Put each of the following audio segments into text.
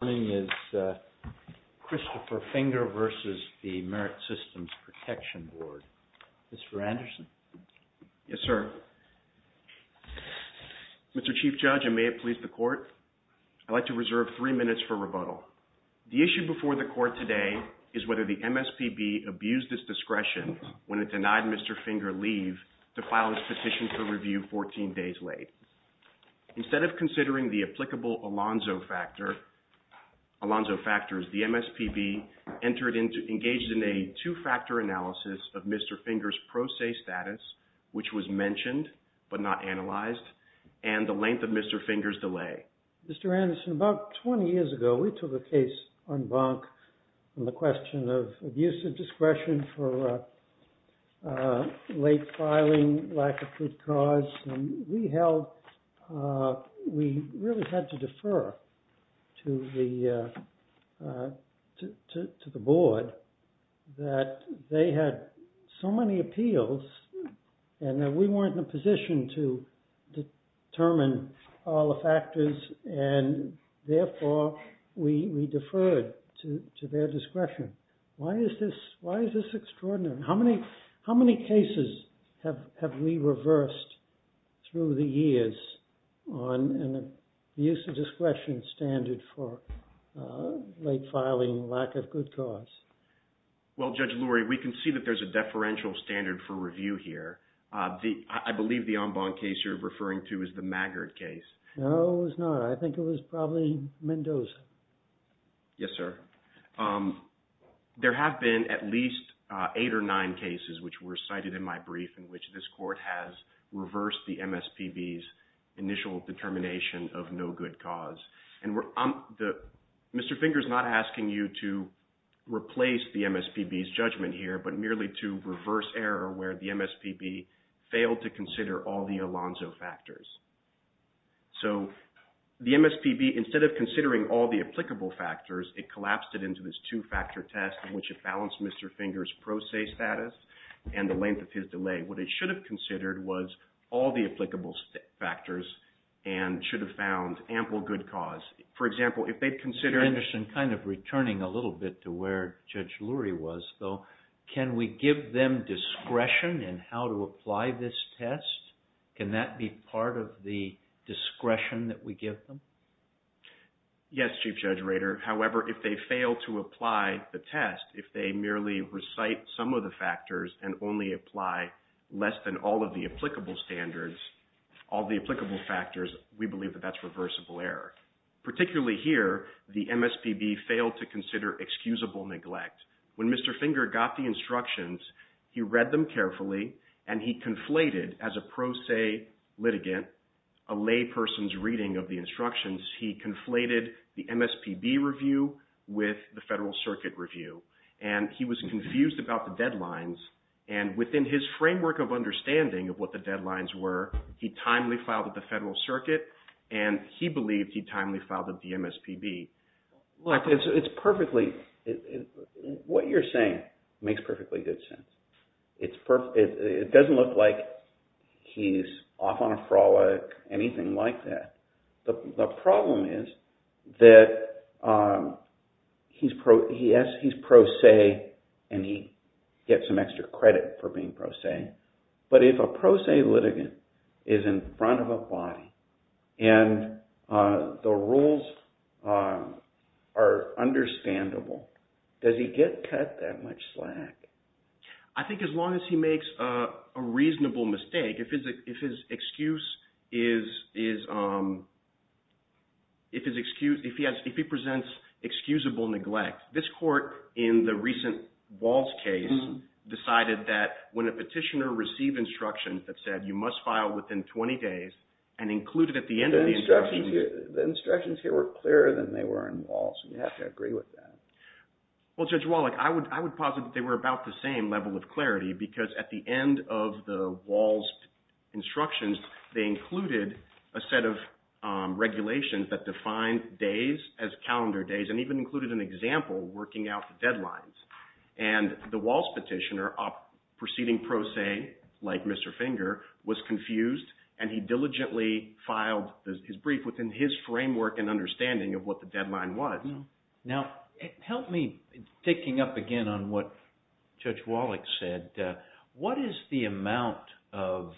May it please the Court, I'd like to reserve three minutes for rebuttal. The issue before the Court today is whether the MSPB abused its discretion when it denied Mr. Finger leave to file his petition for review 14 days late. Instead of considering the applicable Alonzo Factor, Alonzo Factors, the MSPB engaged in a two-factor analysis of Mr. Finger's pro se status, which was mentioned but not analyzed, and the length of Mr. Finger's delay. Mr. Anderson, about 20 years ago, we took a case on bunk on the question of abuse of discretion to the Board, that they had so many appeals, and that we weren't in a position to determine all the factors, and therefore, we deferred to their discretion. Why is this extraordinary? How many cases have we reversed through the years on the use of discretion standard for late filing lack of good cause? Well, Judge Lurie, we can see that there's a deferential standard for review here. I believe the en banc case you're referring to is the Maggard case. No, it was not. I think it was probably Mendoza. Yes, sir. There have been at least eight or nine cases which were cited in my brief in which this Court has reversed the MSPB's initial determination of no good cause. Mr. Finger's not asking you to replace the MSPB's judgment here, but merely to reverse error where the MSPB failed to consider all the Alonzo factors. So the MSPB, instead of considering all the applicable factors, it collapsed it into this two-factor test in which it balanced Mr. Finger's pro se status and the length of his delay. What it and should have found ample good cause. For example, if they consider... Mr. Anderson, kind of returning a little bit to where Judge Lurie was, though, can we give them discretion in how to apply this test? Can that be part of the discretion that we give them? Yes, Chief Judge Rader. However, if they fail to apply the test, if they merely recite some of the factors and only apply less than all of the applicable standards, all the applicable factors, we believe that that's reversible error. Particularly here, the MSPB failed to consider excusable neglect. When Mr. Finger got the instructions, he read them carefully and he conflated as a pro se litigant, a lay person's reading of the instructions, he conflated the MSPB review with the Federal Circuit review. And he was confused about the deadlines and within his framework of understanding of what the deadlines were, he timely filed at the Federal Circuit and he believed he timely filed at the MSPB. Look, it's perfectly... What you're saying makes perfectly good sense. It doesn't look like he's off on a frolic, anything like that. The problem is that he's pro se and he gets some extra credit for being pro se. But if a pro se litigant is in front of a body and the rules are understandable, does he get cut that much slack? I think as long as he makes a reasonable mistake, if his excuse is... If he presents excusable neglect, this court in the recent Walsh case decided that when a petitioner received instructions that said, you must file within 20 days and include it at the end of the instruction... The instructions here were clearer than they were in Walsh. You have to agree with that. Well, Judge Wallach, I would posit that they were about the same level of clarity because at the end of the Walsh instructions, they included a set of regulations that defined days as calendar days and even included an example working out the deadlines. And the Walsh petitioner, proceeding pro se like Mr. Finger, was confused and he diligently filed his brief within his framework and understanding of what the deadline was. Now, help me picking up again on what Judge Wallach said. What is the amount of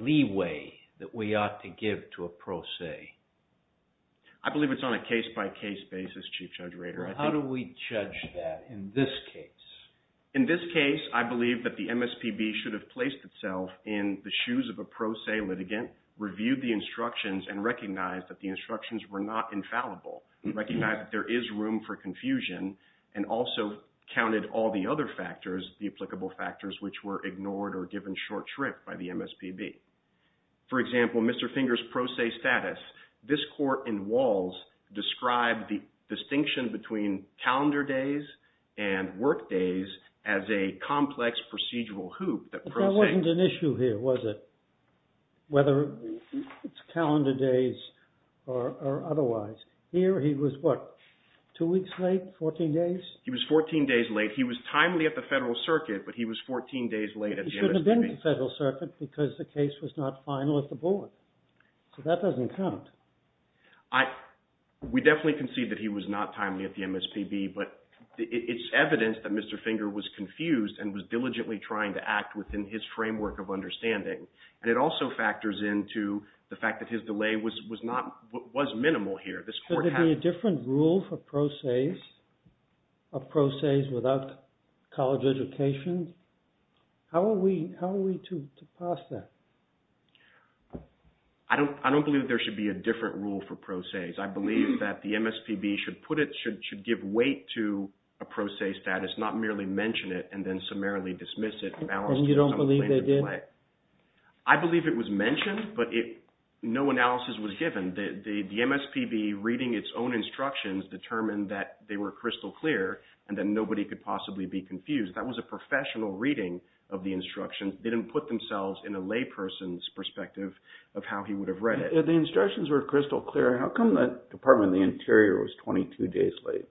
leeway that we ought to give to a pro se? I believe it's on a case-by-case basis, Chief Judge Rader. How do we judge that in this case? In this case, I believe that the MSPB should have placed itself in the shoes of a pro se litigant, reviewed the instructions and recognized that the infallible, recognized that there is room for confusion, and also counted all the other factors, the applicable factors, which were ignored or given short shrift by the MSPB. For example, Mr. Finger's pro se status, this court in Walsh described the distinction between calendar days and work days as a complex procedural hoop that... But that wasn't an issue here, was it? Whether it's calendar days or otherwise. Here he was what, two weeks late, 14 days? He was 14 days late. He was timely at the Federal Circuit, but he was 14 days late at the MSPB. He shouldn't have been at the Federal Circuit because the case was not final at the board. So that doesn't count. We definitely concede that he was not timely at the MSPB, but it's evidence that Mr. Finger was confused and was diligently trying to act within his framework of factors into the fact that his delay was minimal here. Should there be a different rule for pro ses without college education? How are we to pass that? I don't believe there should be a different rule for pro ses. I believe that the MSPB should put it, should give weight to a pro se status, not merely mention it and then summarily dismiss it. And you don't believe they did? I believe it was mentioned, but no analysis was given. The MSPB reading its own instructions determined that they were crystal clear and that nobody could possibly be confused. That was a professional reading of the instructions. They didn't put themselves in a lay person's perspective of how he would have read it. The instructions were crystal clear. How come the Department of the Interior was 22 days late?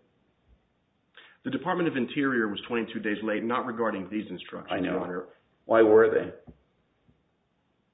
The Department of Interior was 22 days late, not regarding these instructions, Your Honor. Why were they?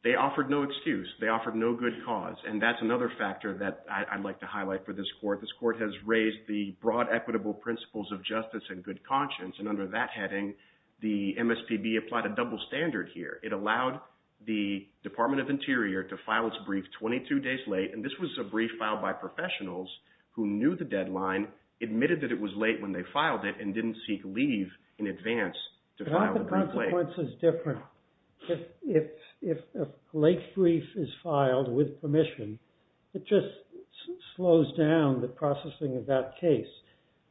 They offered no excuse. They offered no good cause. And that's another factor that I'd like to highlight for this court. This court has raised the broad equitable principles of justice and good conscience. And under that heading, the MSPB applied a double standard here. It allowed the Department of Interior to file its brief 22 days late. And this was a brief filed by professionals who knew the deadline, admitted that it was late when they filed it, and didn't seek leave in advance to file the brief late. The consequence is different. If a late brief is filed with permission, it just slows down the processing of that case.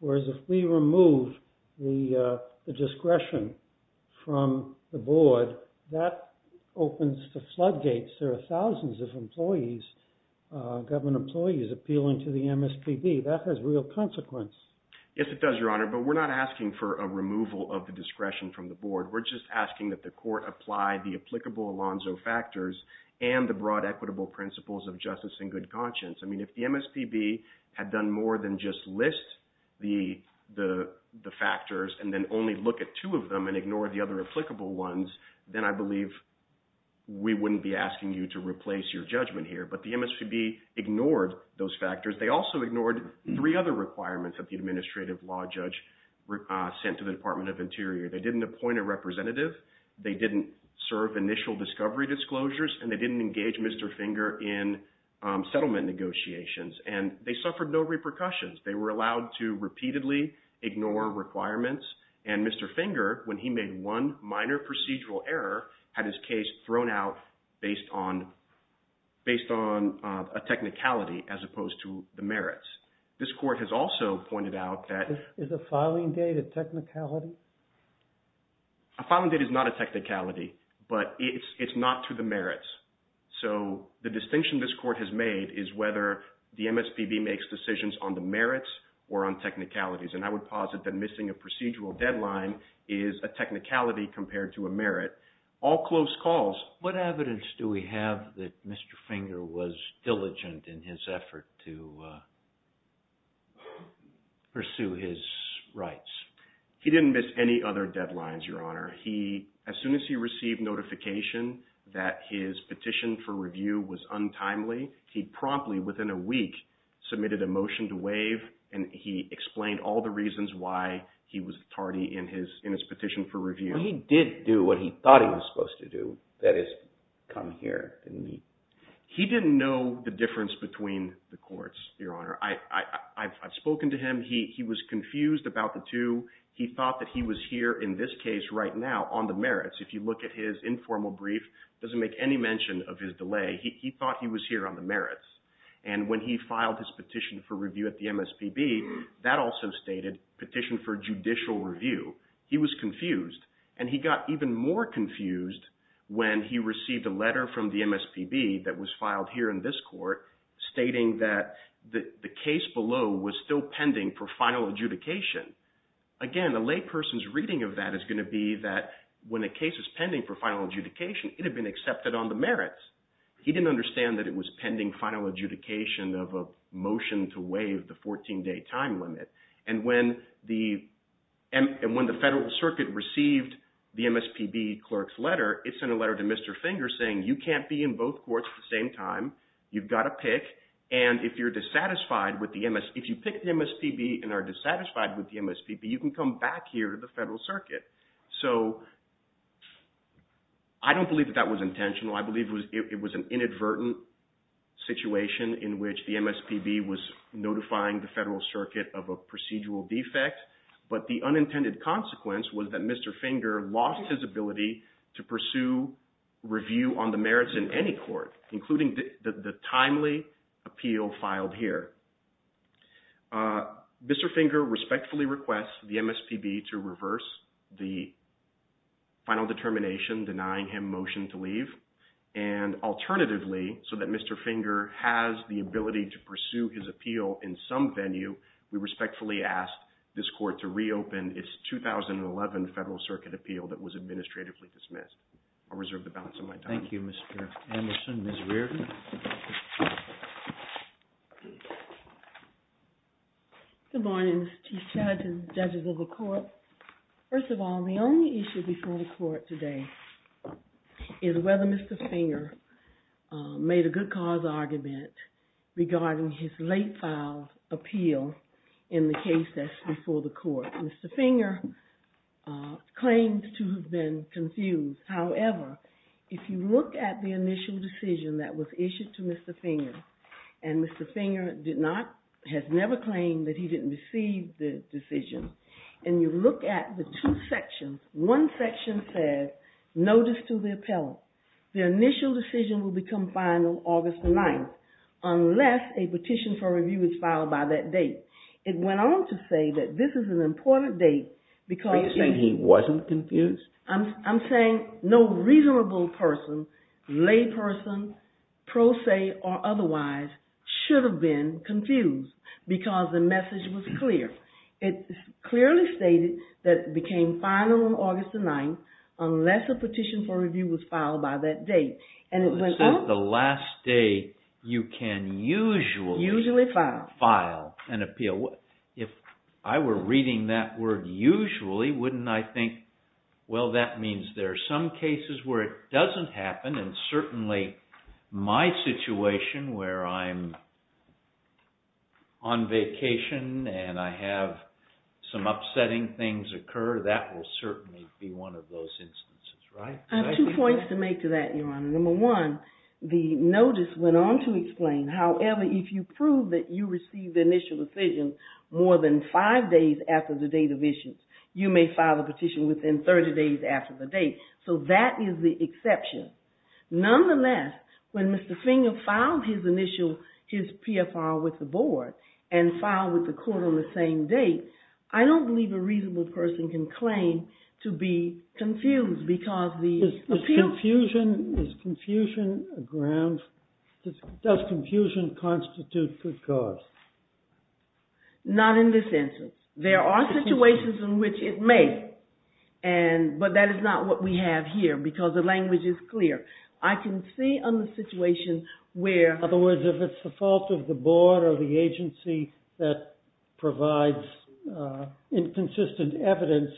Whereas if we remove the discretion from the board, that opens the floodgates. There are thousands of employees, government employees, appealing to the MSPB. That has real consequence. Yes, it does, Your Honor. But we're not asking for a removal of the discretion from the board. We're just asking that the court apply the applicable Alonzo factors and the broad equitable principles of justice and good conscience. I mean, if the MSPB had done more than just list the factors and then only look at two of them and ignore the other applicable ones, then I believe we wouldn't be asking you to replace your judgment here. But the MSPB ignored those factors. They also ignored three other requirements that the They didn't serve initial discovery disclosures, and they didn't engage Mr. Finger in settlement negotiations. And they suffered no repercussions. They were allowed to repeatedly ignore requirements. And Mr. Finger, when he made one minor procedural error, had his case thrown out based on a technicality as opposed to the merits. This court has also pointed out that— Is the filing date a technicality? Filing date is not a technicality, but it's not to the merits. So the distinction this court has made is whether the MSPB makes decisions on the merits or on technicalities. And I would posit that missing a procedural deadline is a technicality compared to a merit. All close calls. What evidence do we have that Mr. Finger was diligent in his effort to pursue his rights? He didn't miss any other deadlines, Your Honor. As soon as he received notification that his petition for review was untimely, he promptly, within a week, submitted a motion to waive, and he explained all the reasons why he was tardy in his petition for review. He did do what he thought he was supposed to do, that is, come here and meet. He didn't know the difference between the courts, Your Honor. I've spoken to him. He was confused about the two. He thought that he was here in this case right now on the merits. If you look at his informal brief, it doesn't make any mention of his delay. He thought he was here on the merits. And when he filed his petition for review at the MSPB, that also stated petition for judicial review. He was confused. And he got even more confused when he received a letter from the MSPB that was filed here in this court stating that the case below was still pending for final adjudication. Again, a lay person's reading of that is going to be that when a case is pending for final adjudication, it had been accepted on the merits. He didn't understand that it was pending final adjudication of a motion to waive the 14-day time limit. And when the Federal Circuit received the MSPB clerk's letter, it sent a letter to Mr. Finger saying, you can't be in both courts at the same time. You've got to pick. And if you're dissatisfied with the MSPB, if you pick the MSPB and are dissatisfied with the MSPB, you can come back here to the Federal Circuit. So I don't believe that that was intentional. I believe it was an inadvertent situation in which the MSPB was notifying the Federal Circuit of a procedural defect. But the unintended consequence was that including the timely appeal filed here, Mr. Finger respectfully requests the MSPB to reverse the final determination denying him motion to leave. And alternatively, so that Mr. Finger has the ability to pursue his appeal in some venue, we respectfully ask this court to reopen its 2011 Federal Circuit appeal that was administratively dismissed. I'll reserve the balance of my time. Thank you, Mr. Anderson. Ms. Reardon. Good morning, Mr. Chief Judge and judges of the court. First of all, the only issue before the court today is whether Mr. Finger made a good cause argument regarding his late-filed appeal in the case that's before the court. Mr. Finger claimed to have been confused. However, if you look at the initial decision that was issued to Mr. Finger, and Mr. Finger has never claimed that he didn't receive the decision, and you look at the two sections, one section says, notice to the appellant, the initial decision will become final August the 9th unless a petition for review was filed by that date. It went on to say that this is an important date because... Are you saying he wasn't confused? I'm saying no reasonable person, lay person, pro se or otherwise, should have been confused because the message was clear. It clearly stated that it became final on August the 9th unless a petition for review was filed by that date. The last day you can usually file an appeal. If I were reading that word usually, wouldn't I think, well, that means there are some cases where it doesn't happen, and certainly my situation where I'm on vacation and I have some upsetting things occur, that will certainly be one of those The notice went on to explain, however, if you prove that you received the initial decision more than five days after the date of issuance, you may file a petition within 30 days after the date, so that is the exception. Nonetheless, when Mr. Finger filed his initial, his PFR with the board and filed with the court on the same date, I don't believe a reasonable person can claim to be confused because the... Is confusion a ground? Does confusion constitute good cause? Not in this instance. There are situations in which it may, but that is not what we have here because the language is clear. I can see on the situation where... In other words, if it's the board or the agency that provides inconsistent evidence,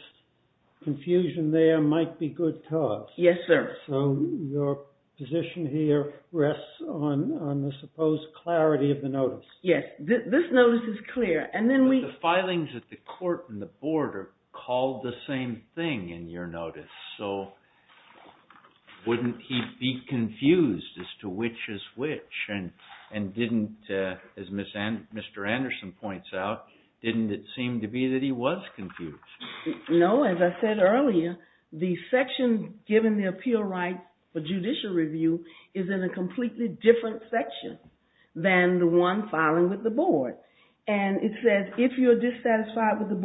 confusion there might be good cause. Yes, sir. So your position here rests on the supposed clarity of the notice. Yes, this notice is clear, and then we... The filings at the court and the board are called the same thing in your notice, so wouldn't he be confused as to which is which and didn't, as Mr. Anderson points out, didn't it seem to be that he was confused? No, as I said earlier, the section given the appeal right for judicial review is in a completely different section than the one filing with the board, and it says if you're dissatisfied with the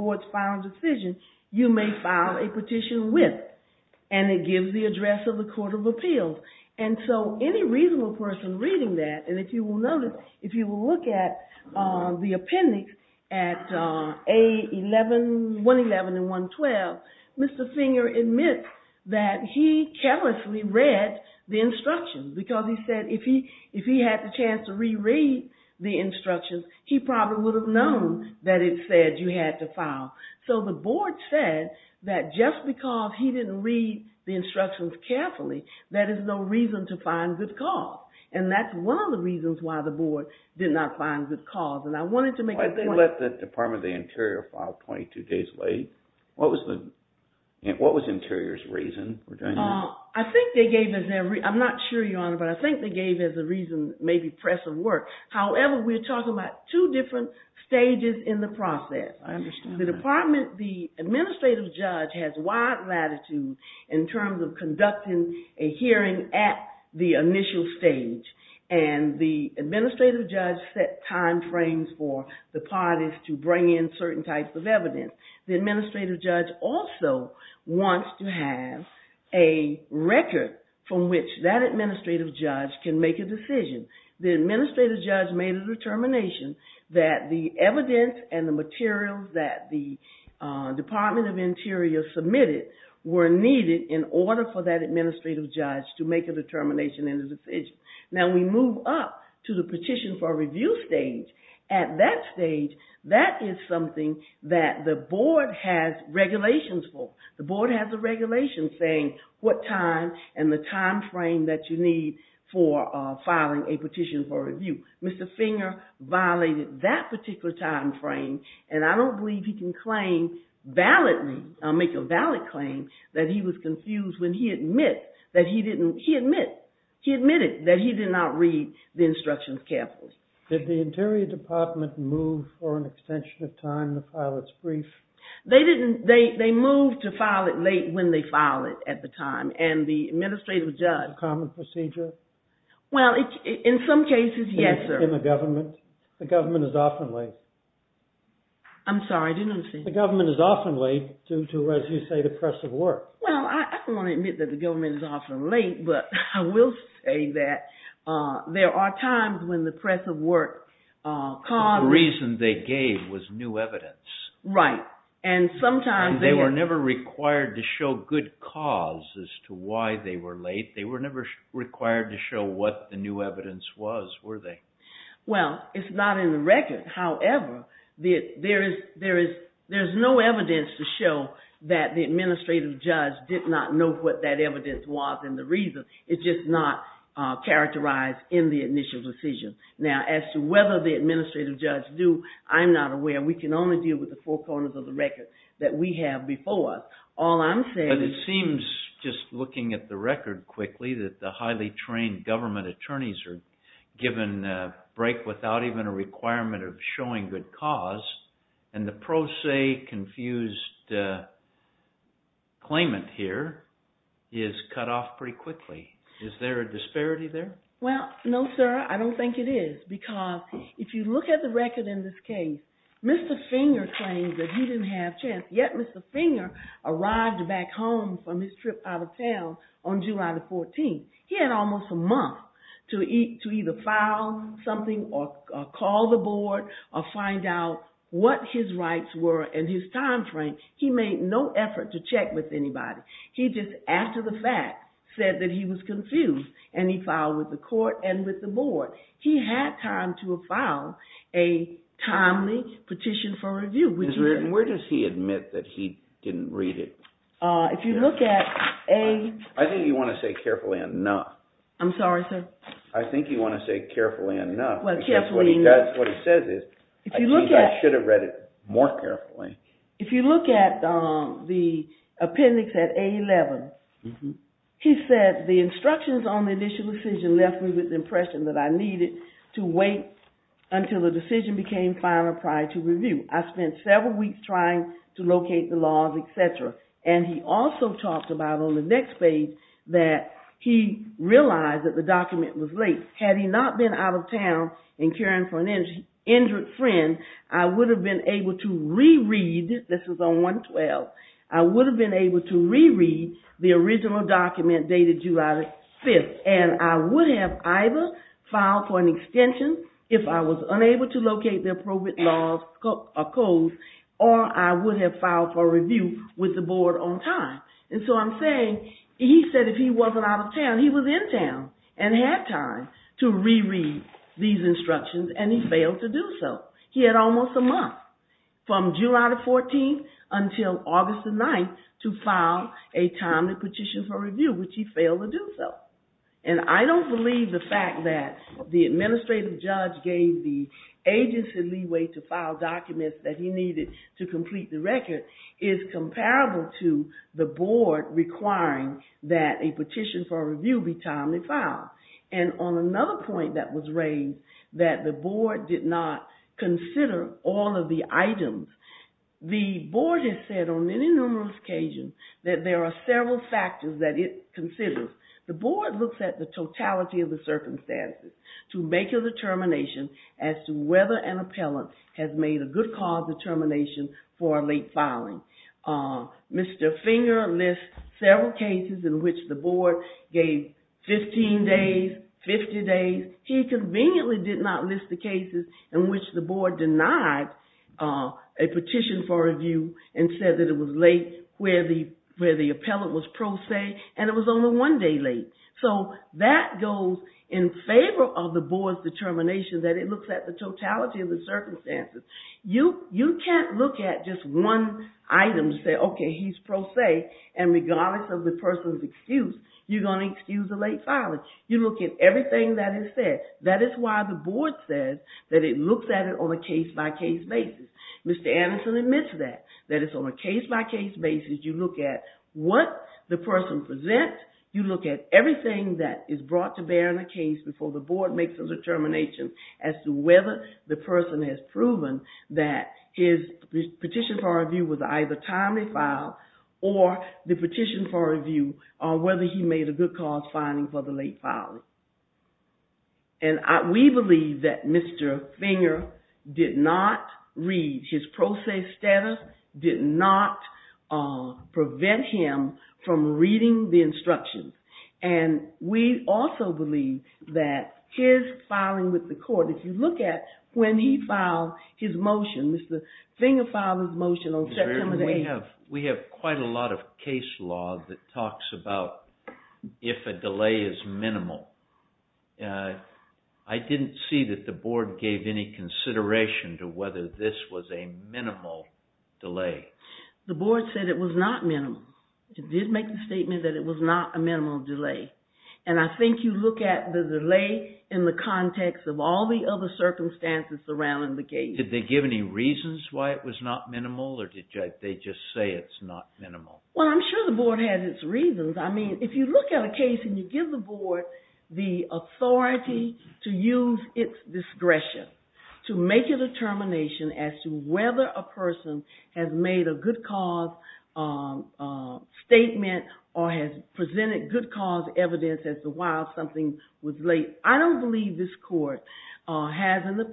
court of appeals. And so any reasonable person reading that, and if you will notice, if you will look at the appendix at 111 and 112, Mr. Finger admits that he carelessly read the instructions because he said if he had the chance to reread the instructions, he probably would have known that it said you had to file. So the board said that just because he didn't read the instructions carefully, that is no reason to find good cause. And that's one of the reasons why the board did not find good cause. And I wanted to make a point... Why did they let the Department of the Interior file 22 days late? What was Interior's reason for doing that? I think they gave us... I'm not sure, Your Honor, but I think they gave us a reason, maybe press of work. However, we're talking about two different stages in the process. I understand that. The administrative judge has wide latitude in terms of conducting a hearing at the initial stage. And the administrative judge set time frames for the parties to bring in certain types of evidence. The administrative judge also wants to have a record from which that administrative judge can make a decision. The administrative judge made a determination that the evidence and the materials that the Department of the Interior submitted were needed in order for that administrative judge to make a determination and a decision. Now we move up to the petition for review stage. At that stage, that is something that the board has regulations for. The board has a regulation saying what time and the time particular time frame. And I don't believe he can make a valid claim that he was confused when he admitted that he did not read the instructions carefully. Did the Interior Department move for an extension of time to file its brief? They moved to file it late when they filed it at the time. And the administrative judge... Common procedure? Well, in some cases, yes, sir. In the government? The government is often late. I'm sorry, I didn't understand. The government is often late due to, as you say, the press of work. Well, I don't want to admit that the government is often late, but I will say that there are times when the press of work caused... The reason they gave was new evidence. Right. And sometimes... And they were never required to show good cause as to why they were late. They were never required to show what the new evidence was, were they? Well, it's not in the record. However, there's no evidence to show that the administrative judge did not know what that evidence was and the reason. It's just not characterized in the initial decision. Now, as to whether the administrative judge do, I'm not aware. We can only deal with the four corners of the record that we have before us. All I'm saying... But it seems, just looking at the record quickly, that the highly trained government attorneys are given a break without even a requirement of showing good cause and the pro se confused claimant here is cut off pretty quickly. Is there a disparity there? Well, no, sir. I don't think it is because if you look at the record in this case, Mr. Finger claims that he didn't have a chance, yet Mr. Finger arrived back home from his 14th. He had almost a month to either file something or call the board or find out what his rights were and his time frame. He made no effort to check with anybody. He just, after the fact, said that he was confused and he filed with the court and with the board. He had time to have filed a timely petition for review. Where does he admit that he didn't read it? If you look at a... I think you want to say carefully enough. I'm sorry, sir? I think you want to say carefully enough. Well, carefully enough. That's what he says is, I think I should have read it more carefully. If you look at the appendix at A11, he said the instructions on the initial decision left me with the impression that I needed to wait until the decision became final prior to review. I spent several weeks trying to locate the laws, etc. And he also talked about on the next page that he realized that the document was late. Had he not been out of town and caring for an injured friend, I would have been able to re-read, this is on 112, I would have been able to re-read the original document dated July 5th. And I would have either filed for an extension if I was unable to locate the appropriate laws or codes, or I would have filed for review with the board on time. And so I'm saying, he said if he wasn't out of town, he was in town and had time to re-read these instructions, and he failed to do so. He had almost a month from July 14th until August 9th to file a timely petition for review, which he failed to do so. And I don't believe the fact that the administrative judge gave the agency leeway to file documents that he needed to complete the record is comparable to the board requiring that a petition for review be timely filed. And on another point that was raised, that the board did not consider all of the items. The board has said on many numerous occasions that there are several factors that it considers. The board looks at the totality of the circumstances to make a determination as to whether an appellant has made a good cause determination for a late filing. Mr. Finger lists several cases in which the board gave 15 days, 50 days. He conveniently did not list the cases in which the board denied a petition for review and said that it was late, where the appellant was pro se, and it was only one day late. So that goes in favor of the board's determination that it looks at the totality of the circumstances. You can't look at just one item and say, OK, he's pro se, and regardless of the person's excuse, you're going to excuse a late filing. You look at everything that is said. That is why the board says that it looks at it on a case-by-case basis. Mr. Anderson admits that, that it's on a case-by-case basis. You look at what the person presents. You look at everything that is brought to bear in a case before the board makes a determination as to whether the person has proven that his petition for review was either timely filed or the petition for review on whether he made a good cause filing for the late filing. And we believe that Mr. Finger did not read. His pro se status did not prevent him from reading the instructions. And we also believe that his filing with the court, if you look at when he filed his motion, Mr. Finger filed his motion on September the 8th. We have quite a lot of case law that talks about if a delay is minimal. I didn't see that the board gave any consideration to whether this was a minimal delay. The board said it was not minimal. It did make the statement that it was not a minimal delay. And I think you look at the delay in the context of all the other circumstances surrounding the case. Did they give any reasons why it was not minimal or did they just say it's not minimal? Well, I'm sure the board has its reasons. If you look at a case and you give the board the authority to use its discretion to make a determination as to whether a person has made a good cause statement or has presented good cause evidence as to why something was late, I don't believe this court has in the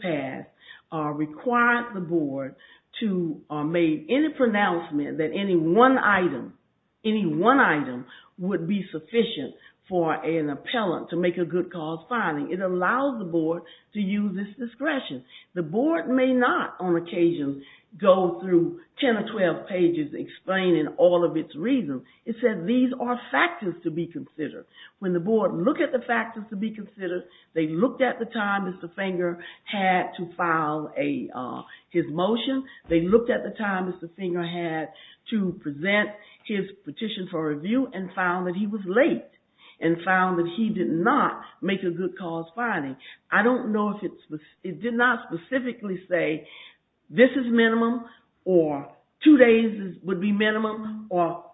would be sufficient for an appellant to make a good cause filing. It allows the board to use its discretion. The board may not, on occasion, go through 10 or 12 pages explaining all of its reasons. It said these are factors to be considered. When the board looked at the factors to be considered, they looked at the time Mr. Finger had to file his motion. They looked at the time Mr. Finger had to present his petition for review and found that he was late and found that he did not make a good cause filing. I don't know if it did not specifically say this is minimum or two days would be minimum or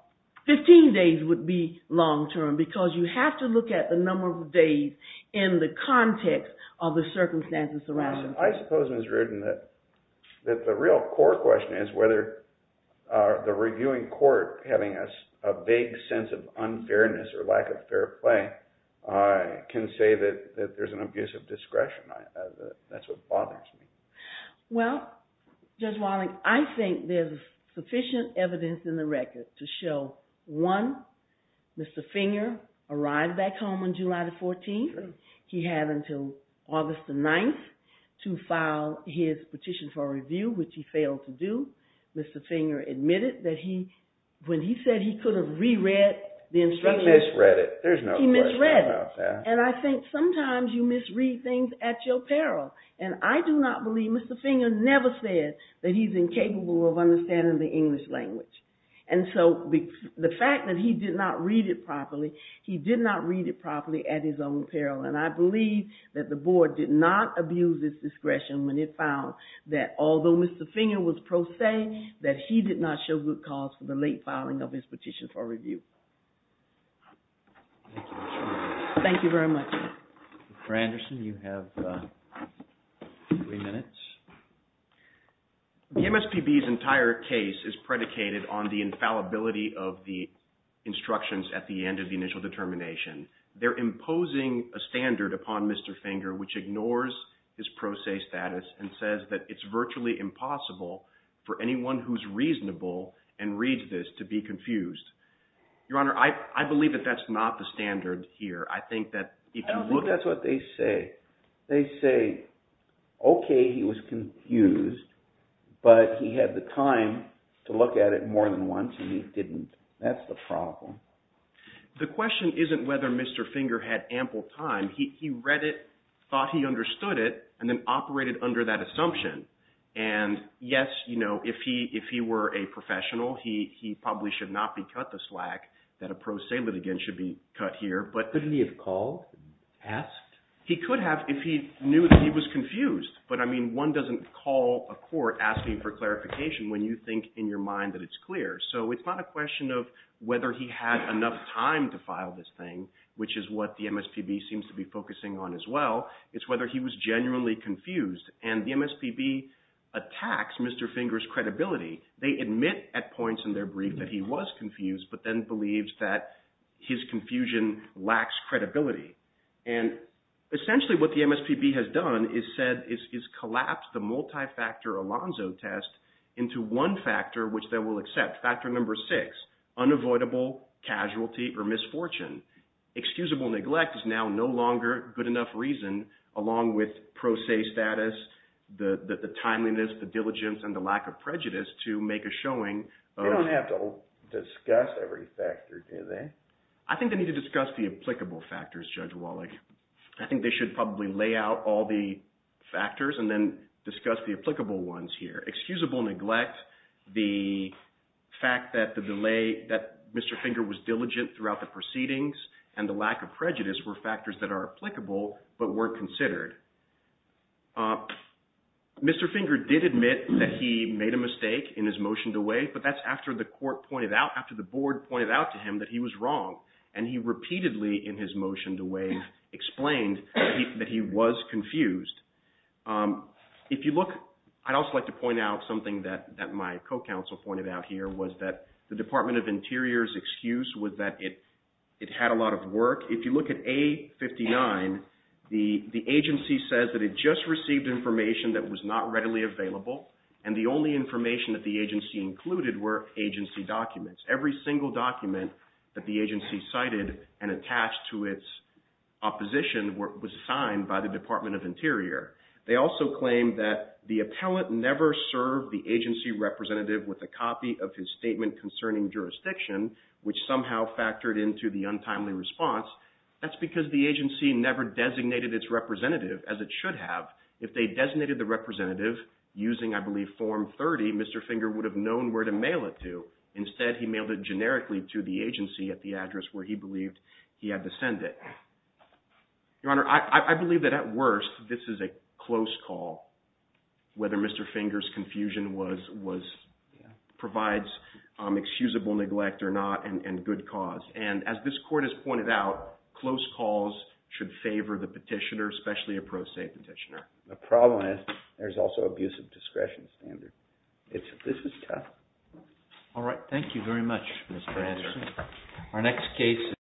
15 days would be long term because you have to look at the number of days in the context of the circumstances surrounding it. I suppose, Ms. Rudin, that the real core question is whether the reviewing court, having a vague sense of unfairness or lack of fair play, can say that there's an abuse of discretion. That's what bothers me. Well, Judge Walling, I think there's sufficient evidence in the record to show, one, Mr. Finger arrived back home on July the 14th. He had until August the 9th to file his petition for review, which he failed to do. Mr. Finger admitted that when he said he could have re-read the instructions. He misread it. There's no question about that. And I think sometimes you misread things at your peril. And I do not believe Mr. Finger never said that he's incapable of understanding the English language. And so the fact that he did not read it properly, he did not read it properly at his own peril. And I believe that the board did not abuse its discretion when it found that although Mr. Finger was pro se, that he did not show good cause for the late filing of his petition for review. Thank you very much. Mr. Anderson, you have three minutes. The MSPB's entire case is predicated on the infallibility of the instructions at the end of the initial determination. They're imposing a standard upon Mr. Finger, which ignores his pro se status and says that it's virtually impossible for anyone who's reasonable and reads this to be confused. Your Honor, I believe that that's not the standard here. I think that if you look at it. I don't think that's what they say. They say, OK, he was confused. But he had the time to look at it more than once. And he didn't. That's the problem. The question isn't whether Mr. Finger had ample time. He read it, thought he understood it, and then operated under that assumption. And yes, if he were a professional, he probably should not be cut the slack. That a pro se litigant should be cut here. But couldn't he have called, asked? He could have if he knew that he was confused. But I mean, one doesn't call a court asking for clarification when you think in your mind that it's clear. So it's not a question of whether he had enough time to file this thing, which is what the MSPB seems to be focusing on as well. It's whether he was genuinely confused. And the MSPB attacks Mr. Finger's credibility. They admit at points in their brief that he was confused, but then believes that his confusion lacks credibility. And essentially, what the MSPB has done is collapsed the multi-factor Alonzo test into one factor, which they will accept. Factor number six, unavoidable casualty or misfortune. Excusable neglect is now no longer good enough reason, along with pro se status, the timeliness, the diligence, and the lack of prejudice to make a showing of- They don't have to discuss every factor, do they? I think they need to discuss the applicable factors, Judge Wallach. I think they should probably lay out all the factors and then discuss the applicable ones here. Excusable neglect, the fact that Mr. Finger was diligent throughout the proceedings, and the lack of prejudice were factors that are applicable but weren't considered. Mr. Finger did admit that he made a mistake in his motion to waive, but that's after the board pointed out to him that he was wrong. And he repeatedly, in his motion to waive, explained that he was confused. If you look, I'd also like to point out something that my co-counsel pointed out here was that the Department of Interior's excuse was that it had a lot of work. If you look at A-59, the agency says that it just received information that was not readily available, and the only information that the agency included were agency documents. Every single document that the agency cited and attached to its opposition was signed by the Department of Interior. They also claimed that the appellant never served the agency representative with a copy of his statement concerning jurisdiction, which somehow factored into the untimely response. That's because the agency never designated its representative, as it should have. If they designated the representative using, I believe, Form 30, Mr. Finger would have known where to mail it to. Instead, he mailed it generically to the agency at the address where he believed he had to send it. Your Honor, I believe that at worst, this is a close call, whether Mr. Finger's confusion provides excusable neglect or not, and good cause. And as this Court has pointed out, close calls should favor the petitioner, especially a pro se petitioner. The problem is there's also abusive discretion standard. This is tough. All right. Thank you very much, Mr. Anderson. Our next case is...